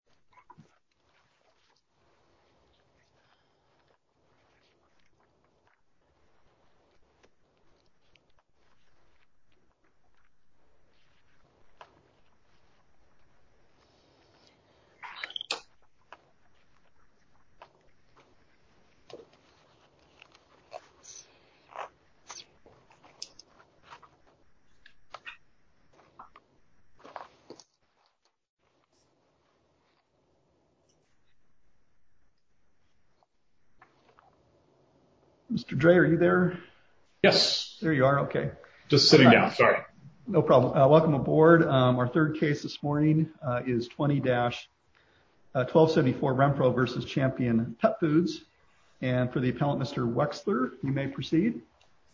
Chomp Chomp Mr. Dre are you there? Yes. There you are. Okay. Just sitting down. Sorry. No problem. Welcome aboard. Our third case this morning is 20-1274 Rempro versus Champion Pet Foods. And for the appellant, Mr. Wexler, you may proceed.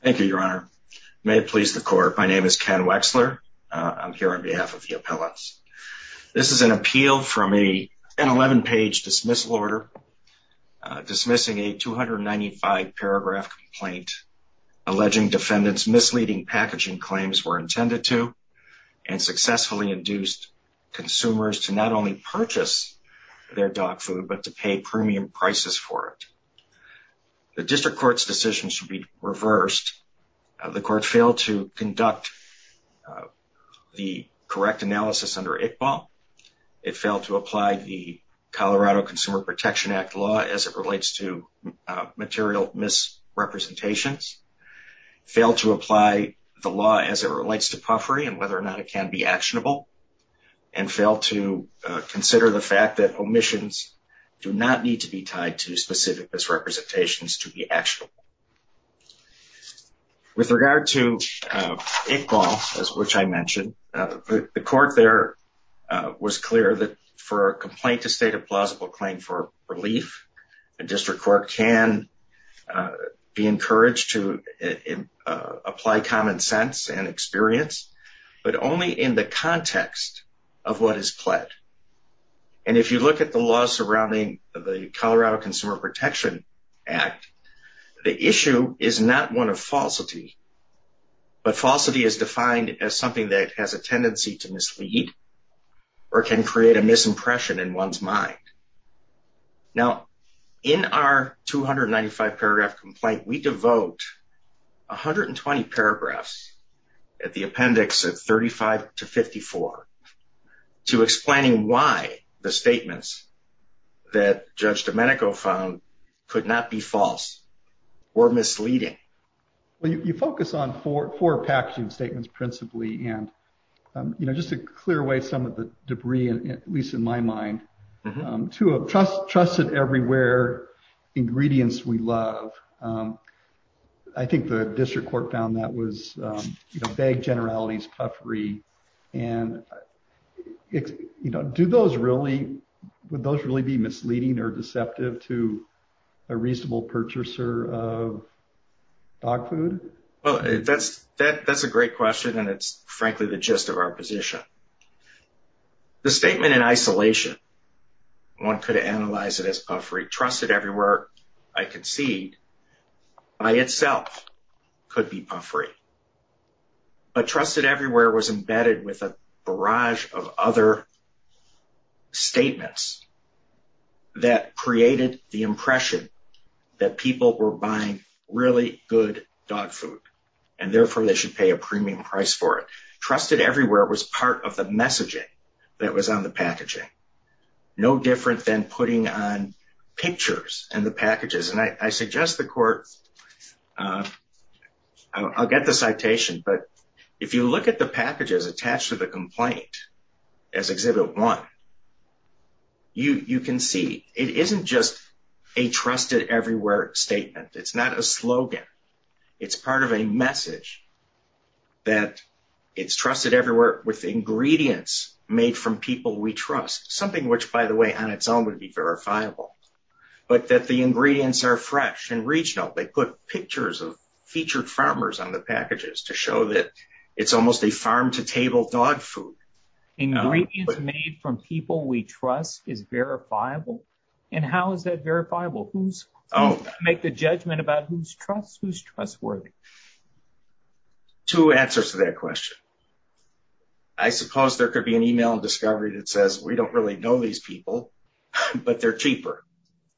Thank you, your honor. May it please the court. My name is Ken Wexler. I'm here on behalf of the appellants. This is an appeal from an 11-page dismissal order dismissing a 295-paragraph complaint alleging defendants' misleading packaging claims were intended to and successfully induced consumers to not only purchase their dog food but to pay premium prices for it. The district court's decision should be reversed. The court failed to conduct the correct analysis under Iqbal. It failed to apply the Colorado Consumer Protection Act law as it relates to material misrepresentations. Failed to apply the law as it relates to puffery and whether or not it can be actionable. And failed to consider the fact that omissions do not need to be tied to specific misrepresentations to be actionable. With regard to Iqbal, which I mentioned, the court there was clear that for a complaint to state a plausible claim for relief, the district court can be encouraged to apply common sense and experience, but only in the context of what is pled. And if you look at the law surrounding the Colorado Consumer Protection Act, the issue is not one of falsity, but falsity is defined as something that has a tendency to mislead or can create a misimpression in one's mind. Now, in our 295-paragraph complaint, we devote 120 paragraphs at the appendix of 35 to 54 to explaining why the statements that Judge Domenico found could not be false or misleading. Well, you focus on four packaging statements principally, and just to clear away some of the debris, at least in my mind, two of trusted everywhere ingredients we love. I think the district court found that was bagged generalities puffery. And do those really, would those really be misleading or deceptive to a reasonable purchaser of dog food? Well, that's a great question. And it's frankly the gist of our position. The statement in isolation, one could analyze it as puffery. Trusted everywhere, I concede, by itself could be puffery. But trusted everywhere was embedded with a barrage of other statements that created the impression that people were buying really good dog food and therefore they should pay a lot of attention to the packaging. No different than putting on pictures and the packages. And I suggest the court, I'll get the citation, but if you look at the packages attached to the complaint as Exhibit 1, you can see it isn't just a trusted everywhere statement. It's not a slogan. It's part of a message that it's trusted everywhere with ingredients made from people we trust. Something which, by the way, on its own would be verifiable. But that the ingredients are fresh and regional. They put pictures of featured farmers on the packages to show that it's almost a farm-to-table dog food. Ingredients made from people we trust is verifiable? And how is that verifiable? Who's the judgment about who's trustworthy? Two answers to that question. I suppose there could be an email and discovery that says we don't really know these people, but they're cheaper.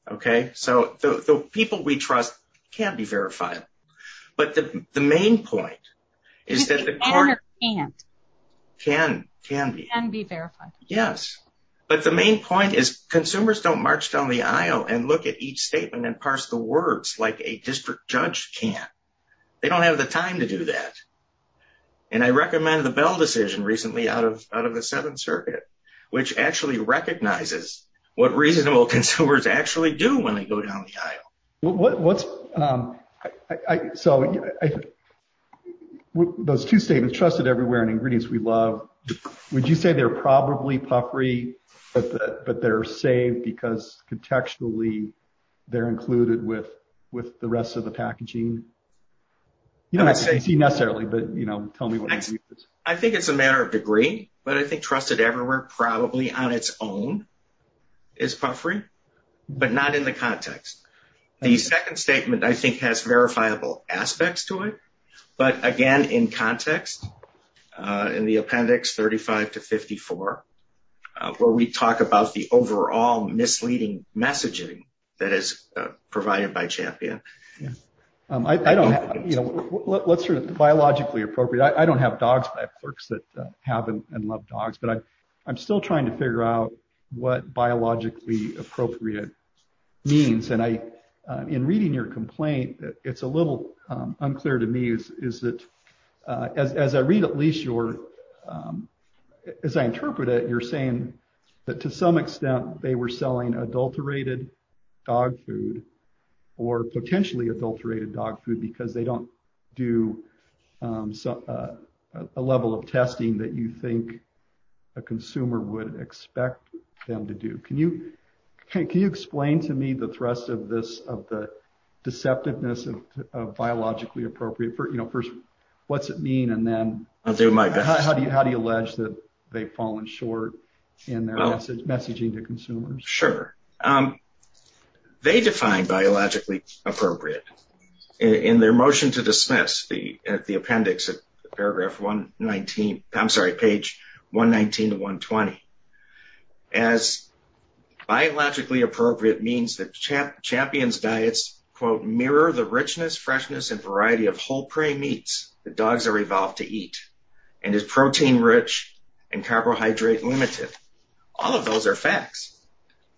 Okay, so the people we trust can be verifiable. But the main point is that the court can be verified. Yes, but the main point is that the court can be verifiable. Yes, but the main point is that the court can't just go in and parse the words like a district judge can. They don't have the time to do that. And I recommend the Bell decision recently out of the Seventh Circuit, which actually recognizes what reasonable consumers actually do when they go down the aisle. Well, what's... So those two statements, trusted everywhere and ingredients we love, would you say they're probably puffery, but they're saved because contextually they're included with the rest of the packaging? You don't have to say necessarily, but tell me what it is. I think it's a matter of degree, but I think trusted everywhere probably on its own is puffery, but not in the context. The second statement I think has verifiable aspects to it, but again, in context, in the appendix 35 to 54, where we talk about the overall misleading messaging that is provided by Champion. I don't... Let's sort of biologically appropriate. I don't have dogs, but I have clerks that have and love dogs, but I'm still trying to biologically appropriate means. And in reading your complaint, it's a little unclear to me, is that as I read at least your... As I interpret it, you're saying that to some extent, they were selling adulterated dog food or potentially adulterated dog food because they can't. Can you explain to me the thrust of this, of the deceptiveness of biologically appropriate? First, what's it mean? And then how do you allege that they've fallen short in their messaging to consumers? Sure. They define biologically appropriate in their motion to dismiss the appendix at paragraph 119, I'm sorry, page 119 to 120. As biologically appropriate means that Champion's diets, quote, mirror the richness, freshness, and variety of whole prey meats that dogs are evolved to eat and is protein rich and carbohydrate limited. All of those are facts.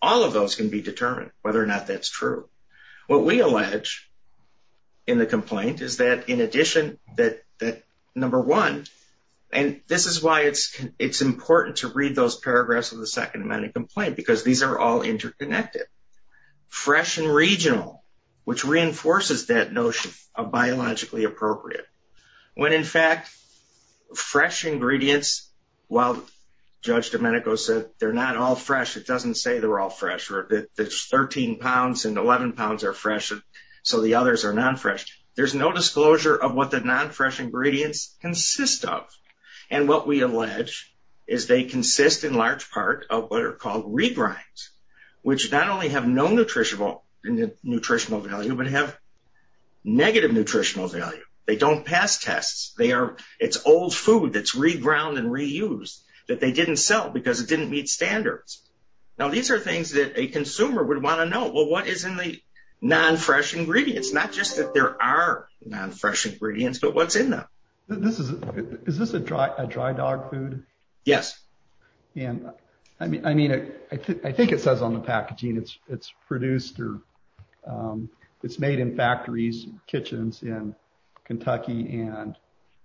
All of those can be determined whether or not that's true. What we allege in the complaint is that in addition that number one, and this is why it's important to read those paragraphs of the second amendment complaint, because these are all interconnected. Fresh and regional, which reinforces that notion of biologically appropriate. When in fact, fresh ingredients, while Judge Domenico said, they're not all fresh, it doesn't say they're all fresh. There's 13 pounds and 11 pounds are fresh, so the others are non-fresh. There's no disclosure of what the non-fresh ingredients consist of. What we allege is they consist in large part of what are called regrinds, which not only have no nutritional value, but have negative nutritional value. They don't pass tests. It's old food that's reground and reused that they didn't sell because it didn't meet standards. Now, these are things that a consumer would want to know. Well, what is in the non-fresh ingredients? Not just that there are non-fresh ingredients, but what's in them? Is this a dry dog food? Yes. I think it says on the packaging it's produced or it's made in factories, kitchens in Kentucky and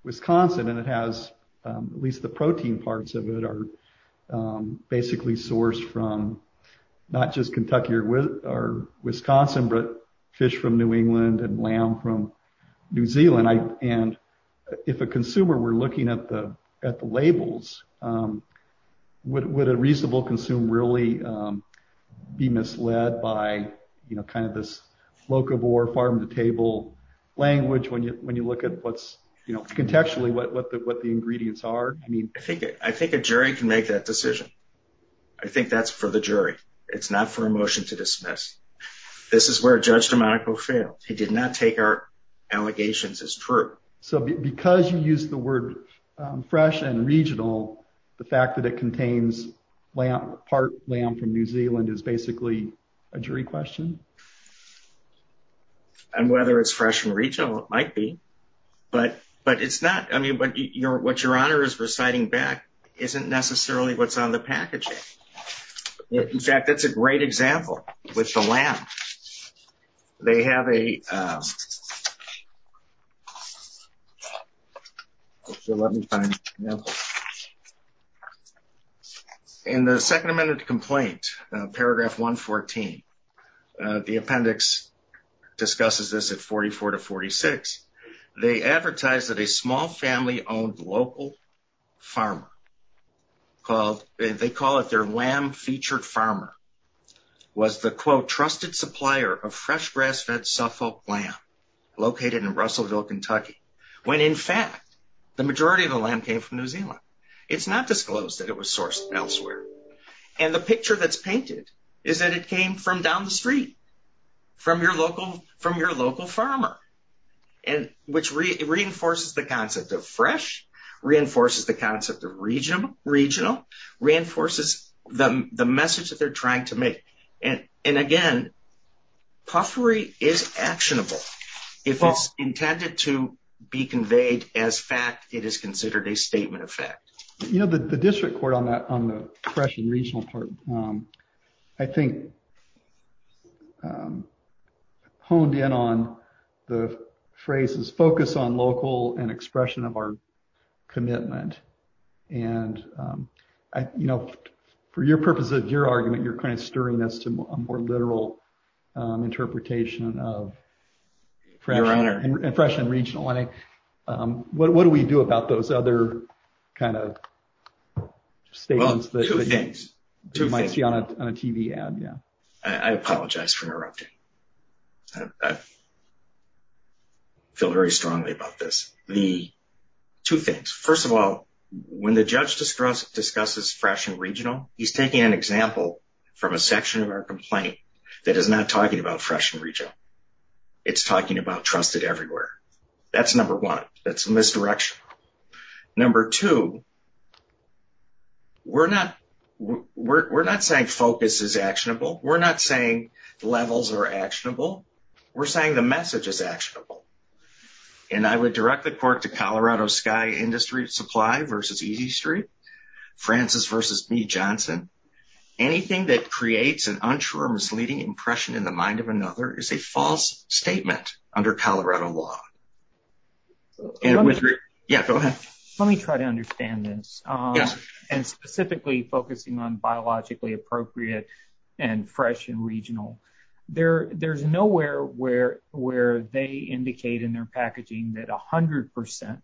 Wisconsin. It has at least the protein parts of it are basically sourced from not just Kentucky or Wisconsin, but fish from New England and lamb from New Zealand. If a consumer were looking at the labels, would a reasonable consume really be misled by this locavore, farm-to-table language when you look at contextually what the ingredients are? I think a jury can make that decision. I think that's for the jury. It's not for a motion to dismiss. This is where Judge DeMonaco failed. He did not take our allegations as true. Because you use the word fresh and regional, the fact that it contains part lamb from New Zealand is basically a jury question? Whether it's fresh and regional, it might be, but what Your Honor is reciting back isn't necessarily what's on the packaging. In fact, that's a great example with the lamb. In the second amendment complaint, paragraph 114, the appendix discusses this at 44 to 46. They advertise that a small family-owned local farmer, they call it their lamb-featured farmer, was the, quote, trusted supplier of fresh grass-fed Suffolk lamb located in Russellville, Kentucky, when in fact the majority of the lamb came from New Zealand. It's not disclosed that it was sourced elsewhere. The picture that's painted is that it came from down the street, from your local farmer, which reinforces the concept of fresh, reinforces the concept of regional, reinforces the message that they're trying to make. And again, puffery is actionable. If it's intended to be conveyed as fact, it is considered a statement of fact. You know, the district court on that, on the fresh and regional part, I think honed in on the phrase's focus on local and expression of our commitment. And, you know, for your purpose of your argument, you're kind of stirring us to a more literal interpretation of fresh and regional. What do we do about those other kind of statements that you might see on a TV ad? Yeah. I apologize for interrupting. I feel very strongly about this. Two things. First of all, when the judge discusses fresh and regional, he's taking an example from a section of our complaint that is not talking about fresh and regional. It's talking about trusted everywhere. That's number one. That's number two. We're not saying focus is actionable. We're not saying levels are actionable. We're saying the message is actionable. And I would direct the court to Colorado Sky Industry Supply versus Easy Street, Francis versus me, Johnson. Anything that creates an unsure, misleading impression in the mind of another is a false statement under Colorado law. Yeah, go ahead. Let me try to understand this and specifically focusing on biologically appropriate and fresh and regional there. There's nowhere where where they indicate in their packaging that 100 percent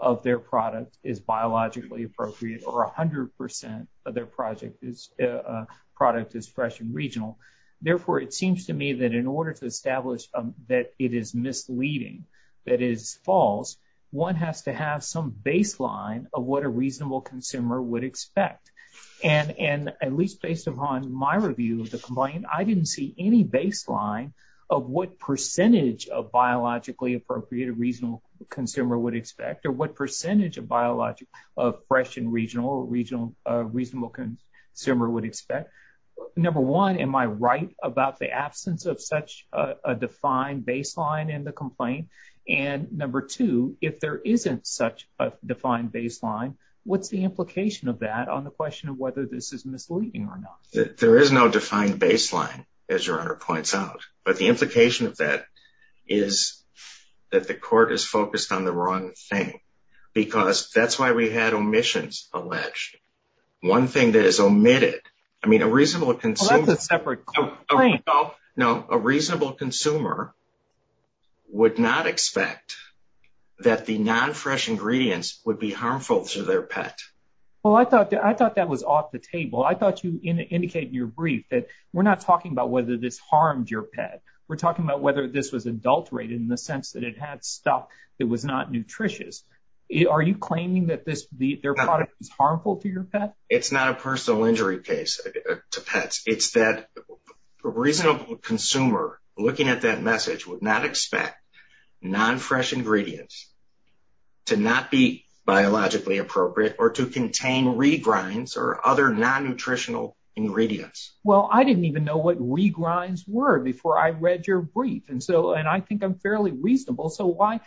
of their product is biologically appropriate or 100 percent of their project is a product is fresh and regional. Therefore, it seems to me that in order to establish that it is misleading, that is false, one has to have some baseline of what a reasonable consumer would expect. And and at least based upon my review of the complaint, I didn't see any baseline of what percentage of biologically appropriate a reasonable consumer would expect or what percentage of biologic of fresh and regional regional reasonable consumer would expect. Number one, am I right about the absence of such a defined baseline in the complaint? And number two, if there isn't such a defined baseline, what's the implication of that on the question of whether this is misleading or not? There is no defined baseline, as your honor points out. But the implication of that is that the court is focused on the wrong thing, because that's why we had alleged one thing that is omitted. I mean, a reasonable consumer, a separate claim. No, a reasonable consumer would not expect that the non-fresh ingredients would be harmful to their pet. Well, I thought I thought that was off the table. I thought you indicated in your brief that we're not talking about whether this harmed your pet. We're talking about whether this was adulterated in the sense that it had stuff that was not nutritious. Are you claiming that their product is harmful to your pet? It's not a personal injury case to pets. It's that a reasonable consumer looking at that message would not expect non-fresh ingredients to not be biologically appropriate or to contain regrinds or other non-nutritional ingredients. Well, I didn't even know what regrinds were before I read your brief. And so and I think I'm fairly reasonable. So why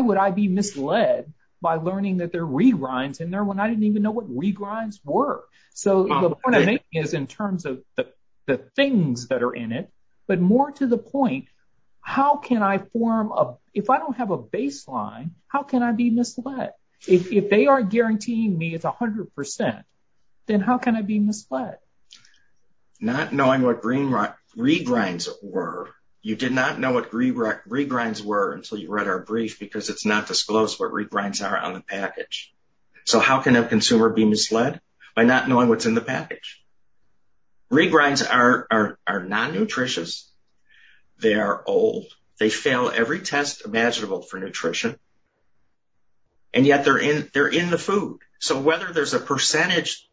would I be misled by learning that there are regrinds in there when I didn't even know what regrinds were? So the point I make is in terms of the things that are in it, but more to the point, how can I form a if I don't have a baseline, how can I be misled? If they are guaranteeing me it's 100 percent, then how can I be misled? By not knowing what regrinds were. You did not know what regrinds were until you read our brief because it's not disclosed what regrinds are on the package. So how can a consumer be misled? By not knowing what's in the package. Regrinds are non-nutritious. They are old. They fail every test imaginable for nutrition. And yet they're in the food. So whether there's a percentage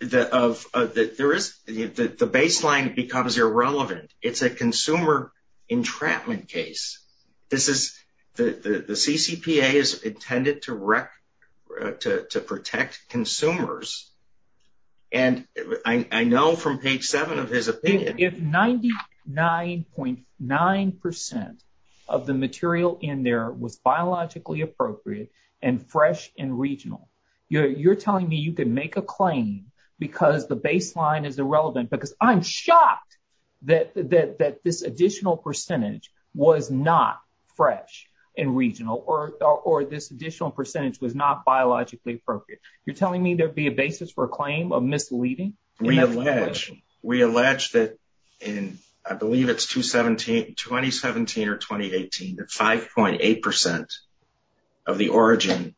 that of that there is the baseline becomes irrelevant. It's a consumer entrapment case. This is the CCPA is intended to wreck to protect consumers. And I know from page seven of his opinion, if 99.9 percent of the material in there was biologically appropriate and fresh and regional, you're telling me you can make a claim because the baseline is irrelevant because I'm shocked that this additional percentage was not fresh and regional or this additional percentage was not biologically appropriate. You're telling me there'd be a basis for a claim of misleading? We allege that in I believe it's 2017 or 2018 that 5.8 percent of the origin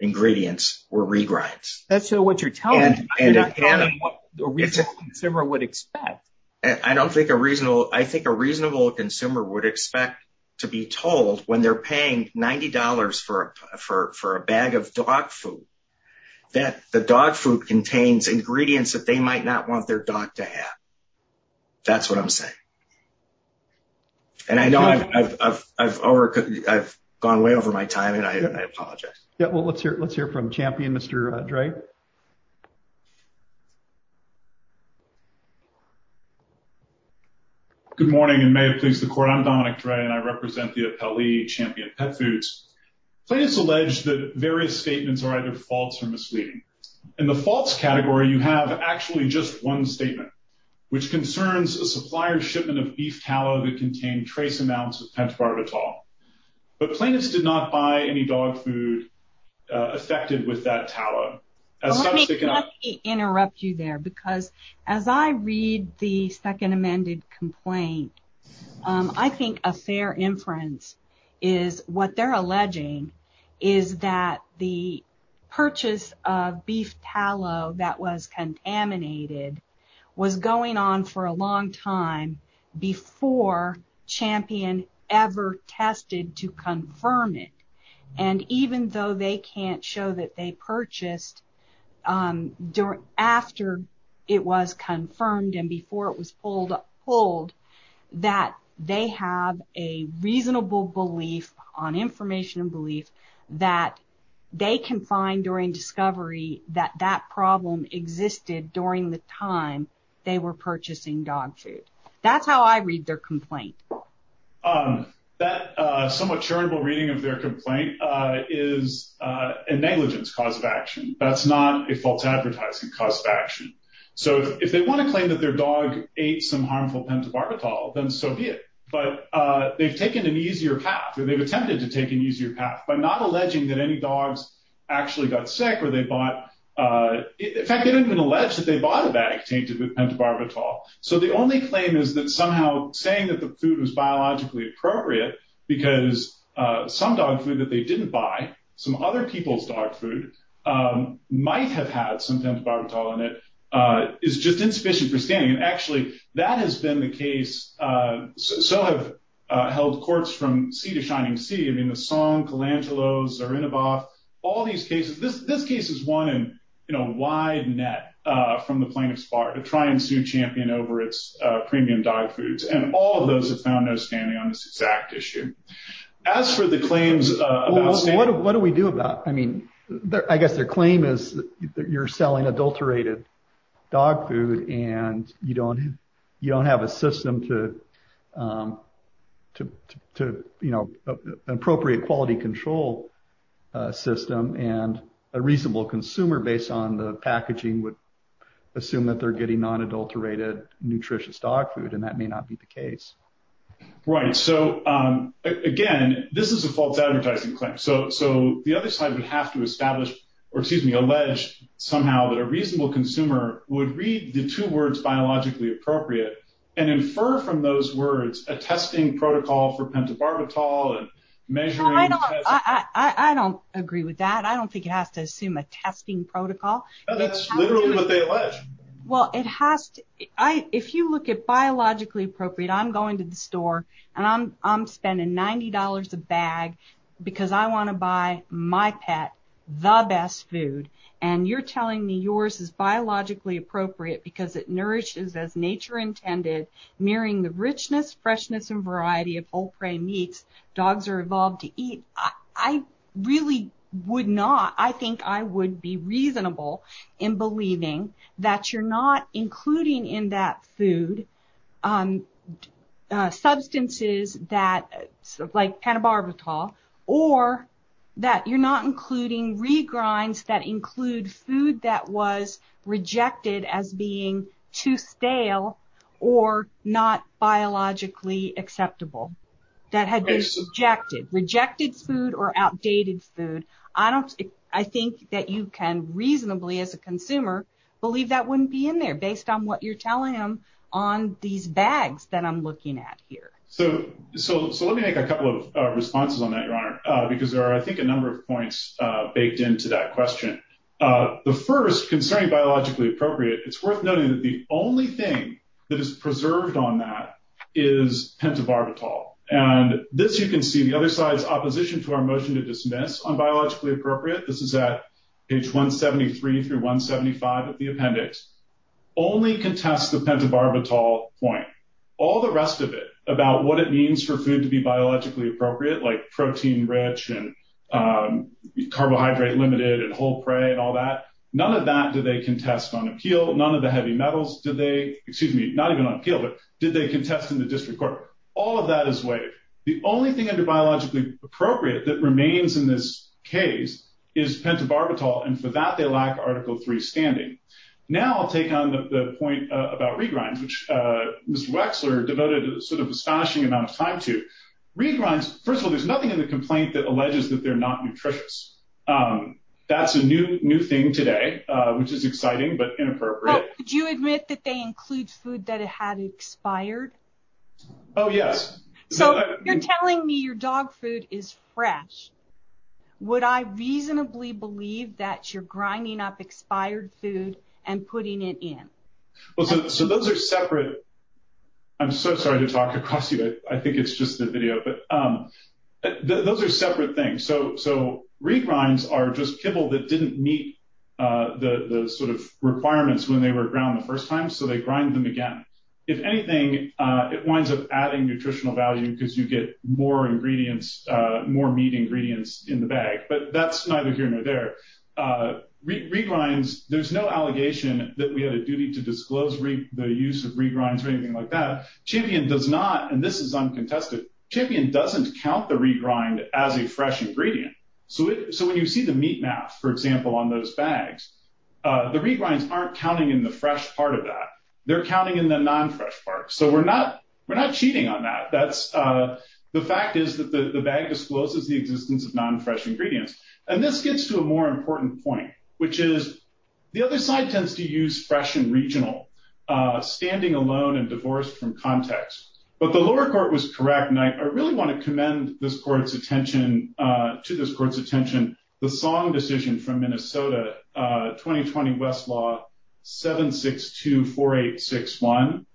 ingredients were regrinds. That's what you're telling me. You're not telling me what a reasonable consumer would expect. I think a reasonable consumer would expect to be told when they're paying $90 for a bag of dog food that the dog food contains ingredients that they might not want their dog to have. That's what I'm saying. And I know I've gone way over my time and I apologize. Yeah well let's hear let's hear from champion Mr. Dre. Good morning and may it please the court. I'm Dominic Dre and I represent the Appellee Champion Pet Foods. Plaintiffs allege that various statements are either false or misleading. In the false category you have actually just one statement which concerns a supplier shipment of barbitol. But plaintiffs did not buy any dog food affected with that tallow. Let me interrupt you there because as I read the second amended complaint I think a fair inference is what they're alleging is that the purchase of beef tallow that was contaminated was going on for a long time before Champion ever tested to confirm it. And even though they can't show that they purchased after it was confirmed and before it was pulled that they have a reasonable belief on information and belief that they can find during the time they were purchasing dog food. That's how I read their complaint. That somewhat charitable reading of their complaint is a negligence cause of action. That's not a false advertising cause of action. So if they want to claim that their dog ate some harmful pentobarbital then so be it. But they've taken an easier path or they've attempted to take an easier path by not alleging that any dogs actually got sick or they bought. In fact they didn't even allege that they bought a bag tainted with pentobarbital. So the only claim is that somehow saying that the food was biologically appropriate because some dog food that they didn't buy some other people's dog food might have had some pentobarbital in it is just insufficient for scanning. And actually that has been the case. So have held courts from sea to shining sea. I mean the Song, Kalanchelos, Zarinaboff, all these cases. This case is one in a wide net from the plaintiff's bar to try and sue Champion over its premium dog foods. And all of those have found no standing on this exact issue. As for the claims. What do we do about. I mean I guess their claim is that you're selling adulterated dog food and you don't you don't have a system to appropriate quality control system and a reasonable consumer based on the packaging would assume that they're getting non adulterated nutritious dog food and that may not be the case. Right. So again this is a false advertising claim. So the other side would have to establish or excuse me allege somehow that a reasonable consumer would read the two words biologically appropriate and infer from those words a testing protocol for pentobarbital and measuring. I don't agree with that. I don't think it has to assume a testing protocol. That's literally what they allege. Well it has to. If you look at biologically appropriate I'm going to the store and I'm spending ninety dollars a bag because I want to buy my pet the best food and you're telling me yours is biologically appropriate because it nourishes as nature intended mirroring the richness freshness and variety of whole prey meats dogs are evolved to eat. I really would not. I think I would be reasonable in believing that you're not including in that food substances that like pentobarbital or that you're not including regrinds that include food that was rejected as being too stale or not biologically acceptable that had been rejected rejected food or outdated food. I don't I think that you can reasonably as a consumer believe that wouldn't be in there based on what you're telling him on these bags that I'm looking at here. So so let me make a couple of responses on that your honor because there are I think a number of points baked into that question. The first concerning biologically appropriate it's worth noting that the only thing that is preserved on that is pentobarbital and this you can see the other side's opposition to our motion to dismiss on biologically appropriate. This is at page 173 through 175 of the appendix only contest the pentobarbital point all the rest of it about what it means for food to be biologically appropriate like protein rich and carbohydrate limited and whole prey and all that. None of that do they contest on appeal. None of the heavy metals do they excuse me not even on appeal but did they contest in the district court. All of that is waived. The only thing under biologically appropriate that remains in this case is pentobarbital and for that they lack article 3 standing. Now I'll take on the point about regrinds which Mr. Wexler devoted a sort of astonishing amount of time to. Regrinds first of all there's nothing in the complaint that alleges that they're not nutritious. That's a new new thing today which is exciting but inappropriate. Could you admit that they include food that had expired? Oh yes. So you're telling me your dog food is fresh. Would I reasonably believe that you're grinding up expired food and putting it in? Well so those are separate. I'm so sorry to talk across you. I think it's just the video but those are separate things. So regrinds are just kibble that didn't meet the sort of requirements when they were ground the first time so they grind them again. If anything it winds up adding nutritional value because you get more ingredients more meat ingredients in the bag but that's neither here nor there. Regrinds there's no allegation that we had a duty to disclose the use of regrinds or anything like that. Champion does not and this is uncontested. Champion doesn't count the regrind as a fresh ingredient. So when you see the meat math for example on those bags the regrinds aren't counting in the fresh part of that. They're counting in the non-fresh part. So we're not we're not cheating on that. That's the fact is that the bag discloses the existence of non-fresh ingredients and this gets to a more important point which is the other side tends to use fresh and regional. Standing alone and divorced from context but the lower court was correct and I really want to commend this court's attention. The song decision from Minnesota 2020 Westlaw 7624861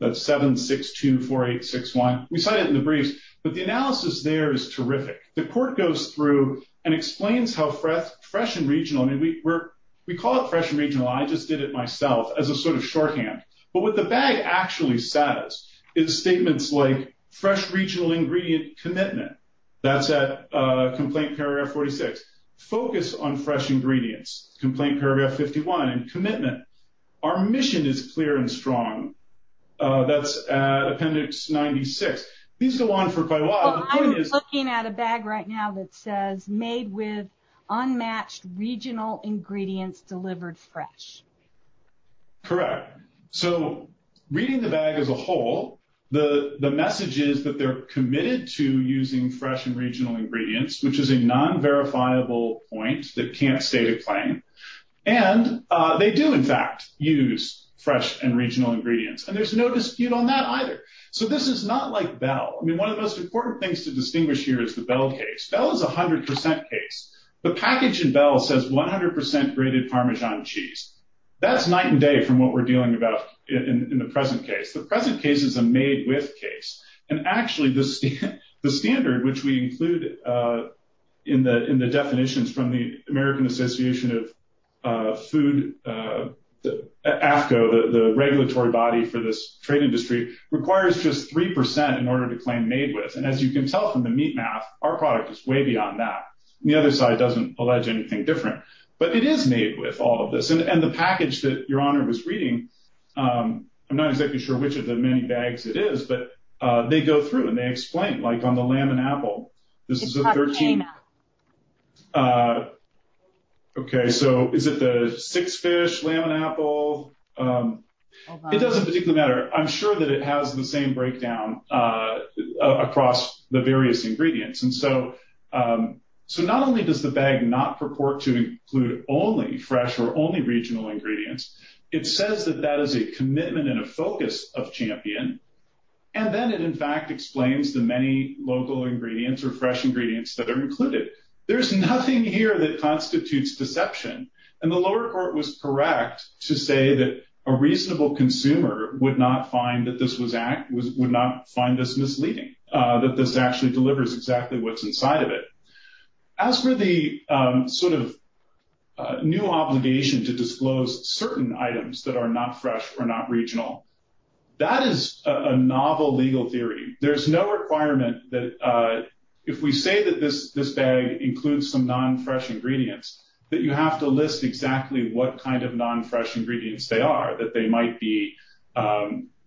that's 7624861. We cite it in the briefs but the analysis there is terrific. The court goes through and explains how fresh and regional and we call it fresh and regional. I just did it myself as a sort of shorthand but what the bag actually says is statements like fresh regional ingredient commitment. That's at complaint paragraph 46. Focus on fresh ingredients complaint paragraph 51 and commitment. Our mission is clear and strong. That's at appendix 96. These go on for quite a while. I'm looking at a bag right now that says made with unmatched regional ingredients delivered fresh. Correct. So reading the bag as a whole the message is that they're committed to using fresh and regional ingredients which is a non-verifiable point that can't stay to claim and they do in fact use fresh and regional ingredients and there's no dispute on that either. So this is not like Bell. I mean one of the most important things to distinguish here is the Bell case. Bell is a hundred percent case. The package in Bell says 100 percent grated parmesan cheese. That's night and day from what we're dealing about in the present case. The present case is a made with case and actually the standard which we include in the definitions from the American Association of Food, AFCO, the regulatory body for this trade industry requires just three percent in order to claim made with and as you can tell from the meat math our product is way beyond that. The other side doesn't allege anything different but it is made with all of this and the package that your honor was reading I'm not exactly sure which of the many bags it is but they go through and they explain like on the lamb and apple this is a 13. Okay so is it the six fish lamb and apple? It doesn't particularly matter. I'm sure that it has the same breakdown across the various ingredients and so not only does the bag not purport to include only fresh or only regional ingredients it says that that is a commitment and a focus of Champion and then it in fact explains the many local ingredients or fresh ingredients that are included. There's nothing here that constitutes deception and the lower court was correct to say that a reasonable consumer would not find that this was act was would not find this misleading that this actually delivers exactly what's inside of it. As for the sort of new obligation to disclose certain items that are not fresh or not regional that is a novel legal theory. There's no requirement that if we say that this this includes some non-fresh ingredients that you have to list exactly what kind of non-fresh ingredients they are that they might be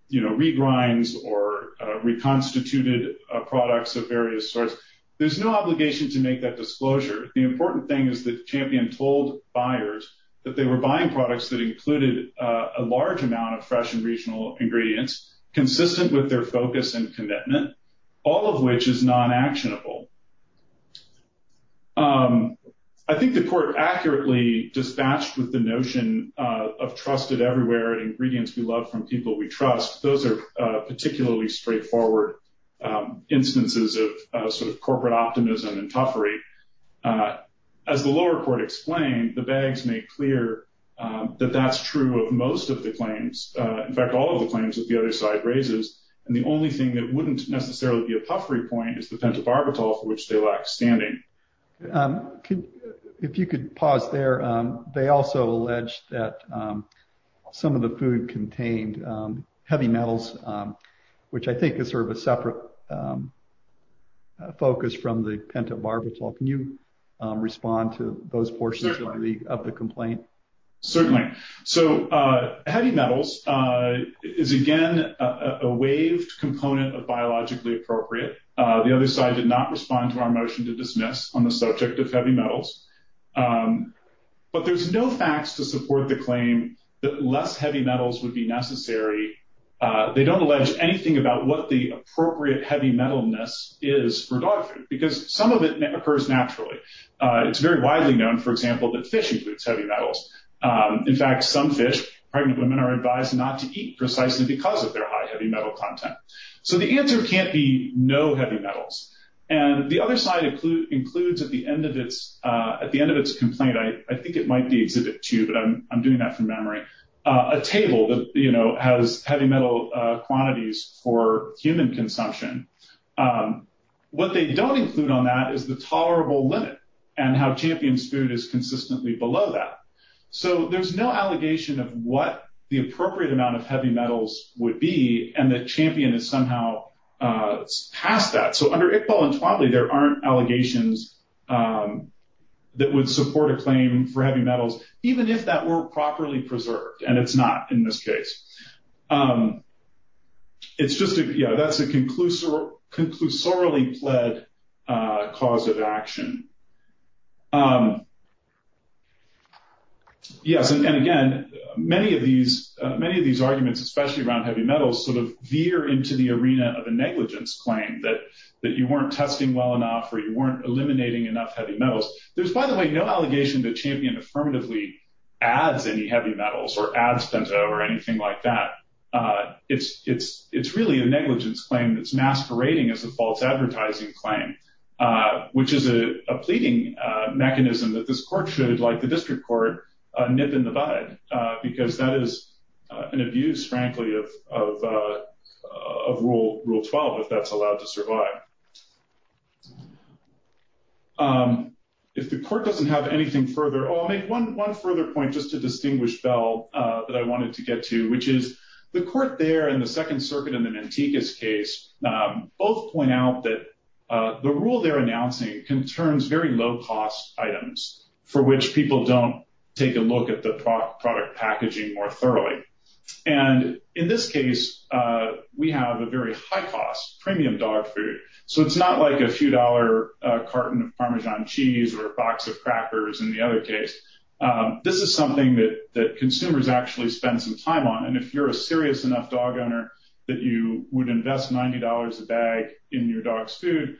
you know regrinds or reconstituted products of various sorts. There's no obligation to make that disclosure. The important thing is that Champion told buyers that they were buying products that included a large amount of fresh and regional ingredients consistent with their focus and commitment all of which is non-actionable. I think the court accurately dispatched with the notion of trusted everywhere and ingredients we love from people we trust. Those are particularly straightforward instances of sort of corporate optimism and puffery. As the lower court explained the bags make clear that that's true of most of the claims. In fact all of the claims that the other side raises and the only thing that wouldn't necessarily be a puffery point is the pentobarbital for which they lack standing. If you could pause there. They also allege that some of the food contained heavy metals which I think is sort of a separate focus from the pentobarbital. Can you respond to those portions of the complaint? Certainly. Heavy metals is again a waived component of biologically appropriate. The other side did not respond to our motion to dismiss on the subject of heavy metals. But there's no facts to support the claim that less heavy metals would be necessary. They don't allege anything about what the appropriate heavy metalness is for dog food because some of it occurs naturally. It's very widely known for example that fish includes heavy metals. In fact some fish pregnant women are advised not to eat precisely because of their high metal content. So the answer can't be no heavy metals. And the other side includes at the end of its at the end of its complaint. I think it might be exhibit two but I'm doing that from memory. A table that you know has heavy metal quantities for human consumption. What they don't include on that is the tolerable limit and how champions food is consistently below that. So there's no limit on what the appropriate amount of heavy metals would be. And the champion is somehow past that. So under Iqbal and Twadley there aren't allegations that would support a claim for heavy metals even if that were properly preserved. And it's not in this case. It's just you know that's a conclusive conclusively lead cause of action. Yes. And again many of these many of these arguments especially around heavy metals sort of veer into the arena of a negligence claim that that you weren't testing well enough or you weren't eliminating enough heavy metals. There's by the way no allegation that champion affirmatively adds any heavy metals or ad spenso or anything like that. It's it's it's really a negligence claim that's masquerading as a false advertising claim which is a pleading mechanism that this court should like the district court nip in the bud because that is an abuse frankly of of rule rule 12 if that's allowed to survive. If the court doesn't have anything further I'll make one one further point just to distinguish Bell that I wanted to get to which is the court there in the Second Circuit in the Mantecas case both point out that the rule they're announcing concerns very low cost items for which people don't take a look at the product packaging more thoroughly. And in this case we have a very high premium dog food so it's not like a few dollar carton of parmesan cheese or a box of crackers in the other case. This is something that that consumers actually spend some time on and if you're a serious enough dog owner that you would invest ninety dollars a bag in your dog's food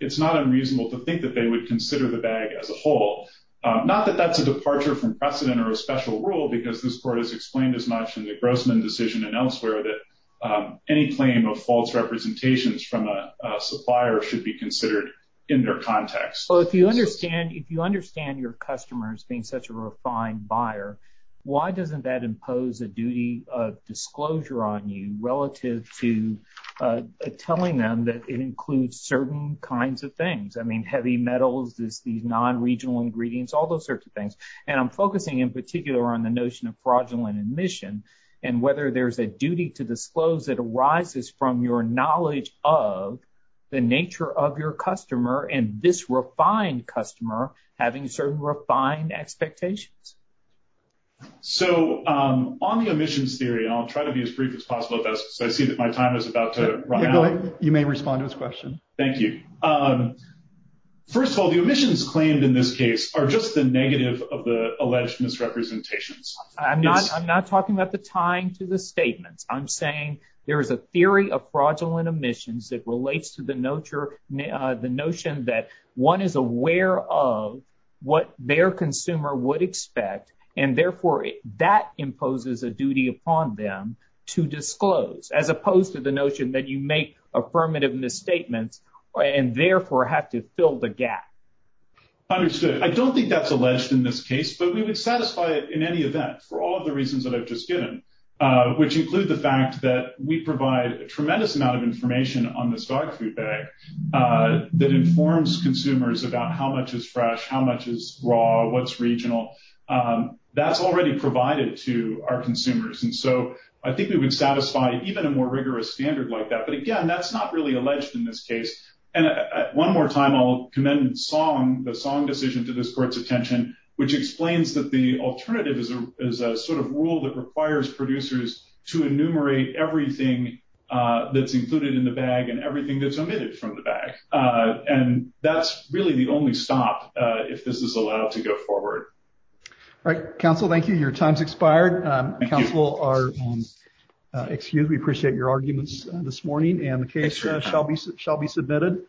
it's not unreasonable to think that they would consider the bag as a whole. Not that that's a departure from precedent or a special rule because this court has explained as much in the Grossman decision and elsewhere that any claim of false representations from a supplier should be considered in their context. Well if you understand if you understand your customers being such a refined buyer why doesn't that impose a duty of disclosure on you relative to telling them that it includes certain kinds of things I mean heavy metals this these non-regional ingredients all those sorts of things and I'm focusing in particular on the notion of fraudulent admission and whether there's a duty to disclose that arises from your knowledge of the nature of your customer and this refined customer having certain refined expectations. So on the omissions theory I'll try to be as brief as possible so I see that my time is about to run out. You may respond to this question. Thank you. First of all the omissions claimed in this case are just the negative of the time to the statements. I'm saying there is a theory of fraudulent omissions that relates to the notion that one is aware of what their consumer would expect and therefore that imposes a duty upon them to disclose as opposed to the notion that you make affirmative misstatements and therefore have to fill the gap. Understood. I don't think that's alleged in this case but we would satisfy in any event for all the reasons that I've just given which include the fact that we provide a tremendous amount of information on this dog food bag that informs consumers about how much is fresh how much is raw what's regional that's already provided to our consumers and so I think we would satisfy even a more rigorous standard like that but again that's not really alleged in this case and one more time I'll commend song the song decision to this court's attention which explains that the alternative is a is a sort of rule that requires producers to enumerate everything that's included in the bag and everything that's omitted from the bag and that's really the only stop if this is allowed to go forward. All right counsel thank you your time's expired counsel are excused we appreciate your arguments this morning and the case shall be submitted.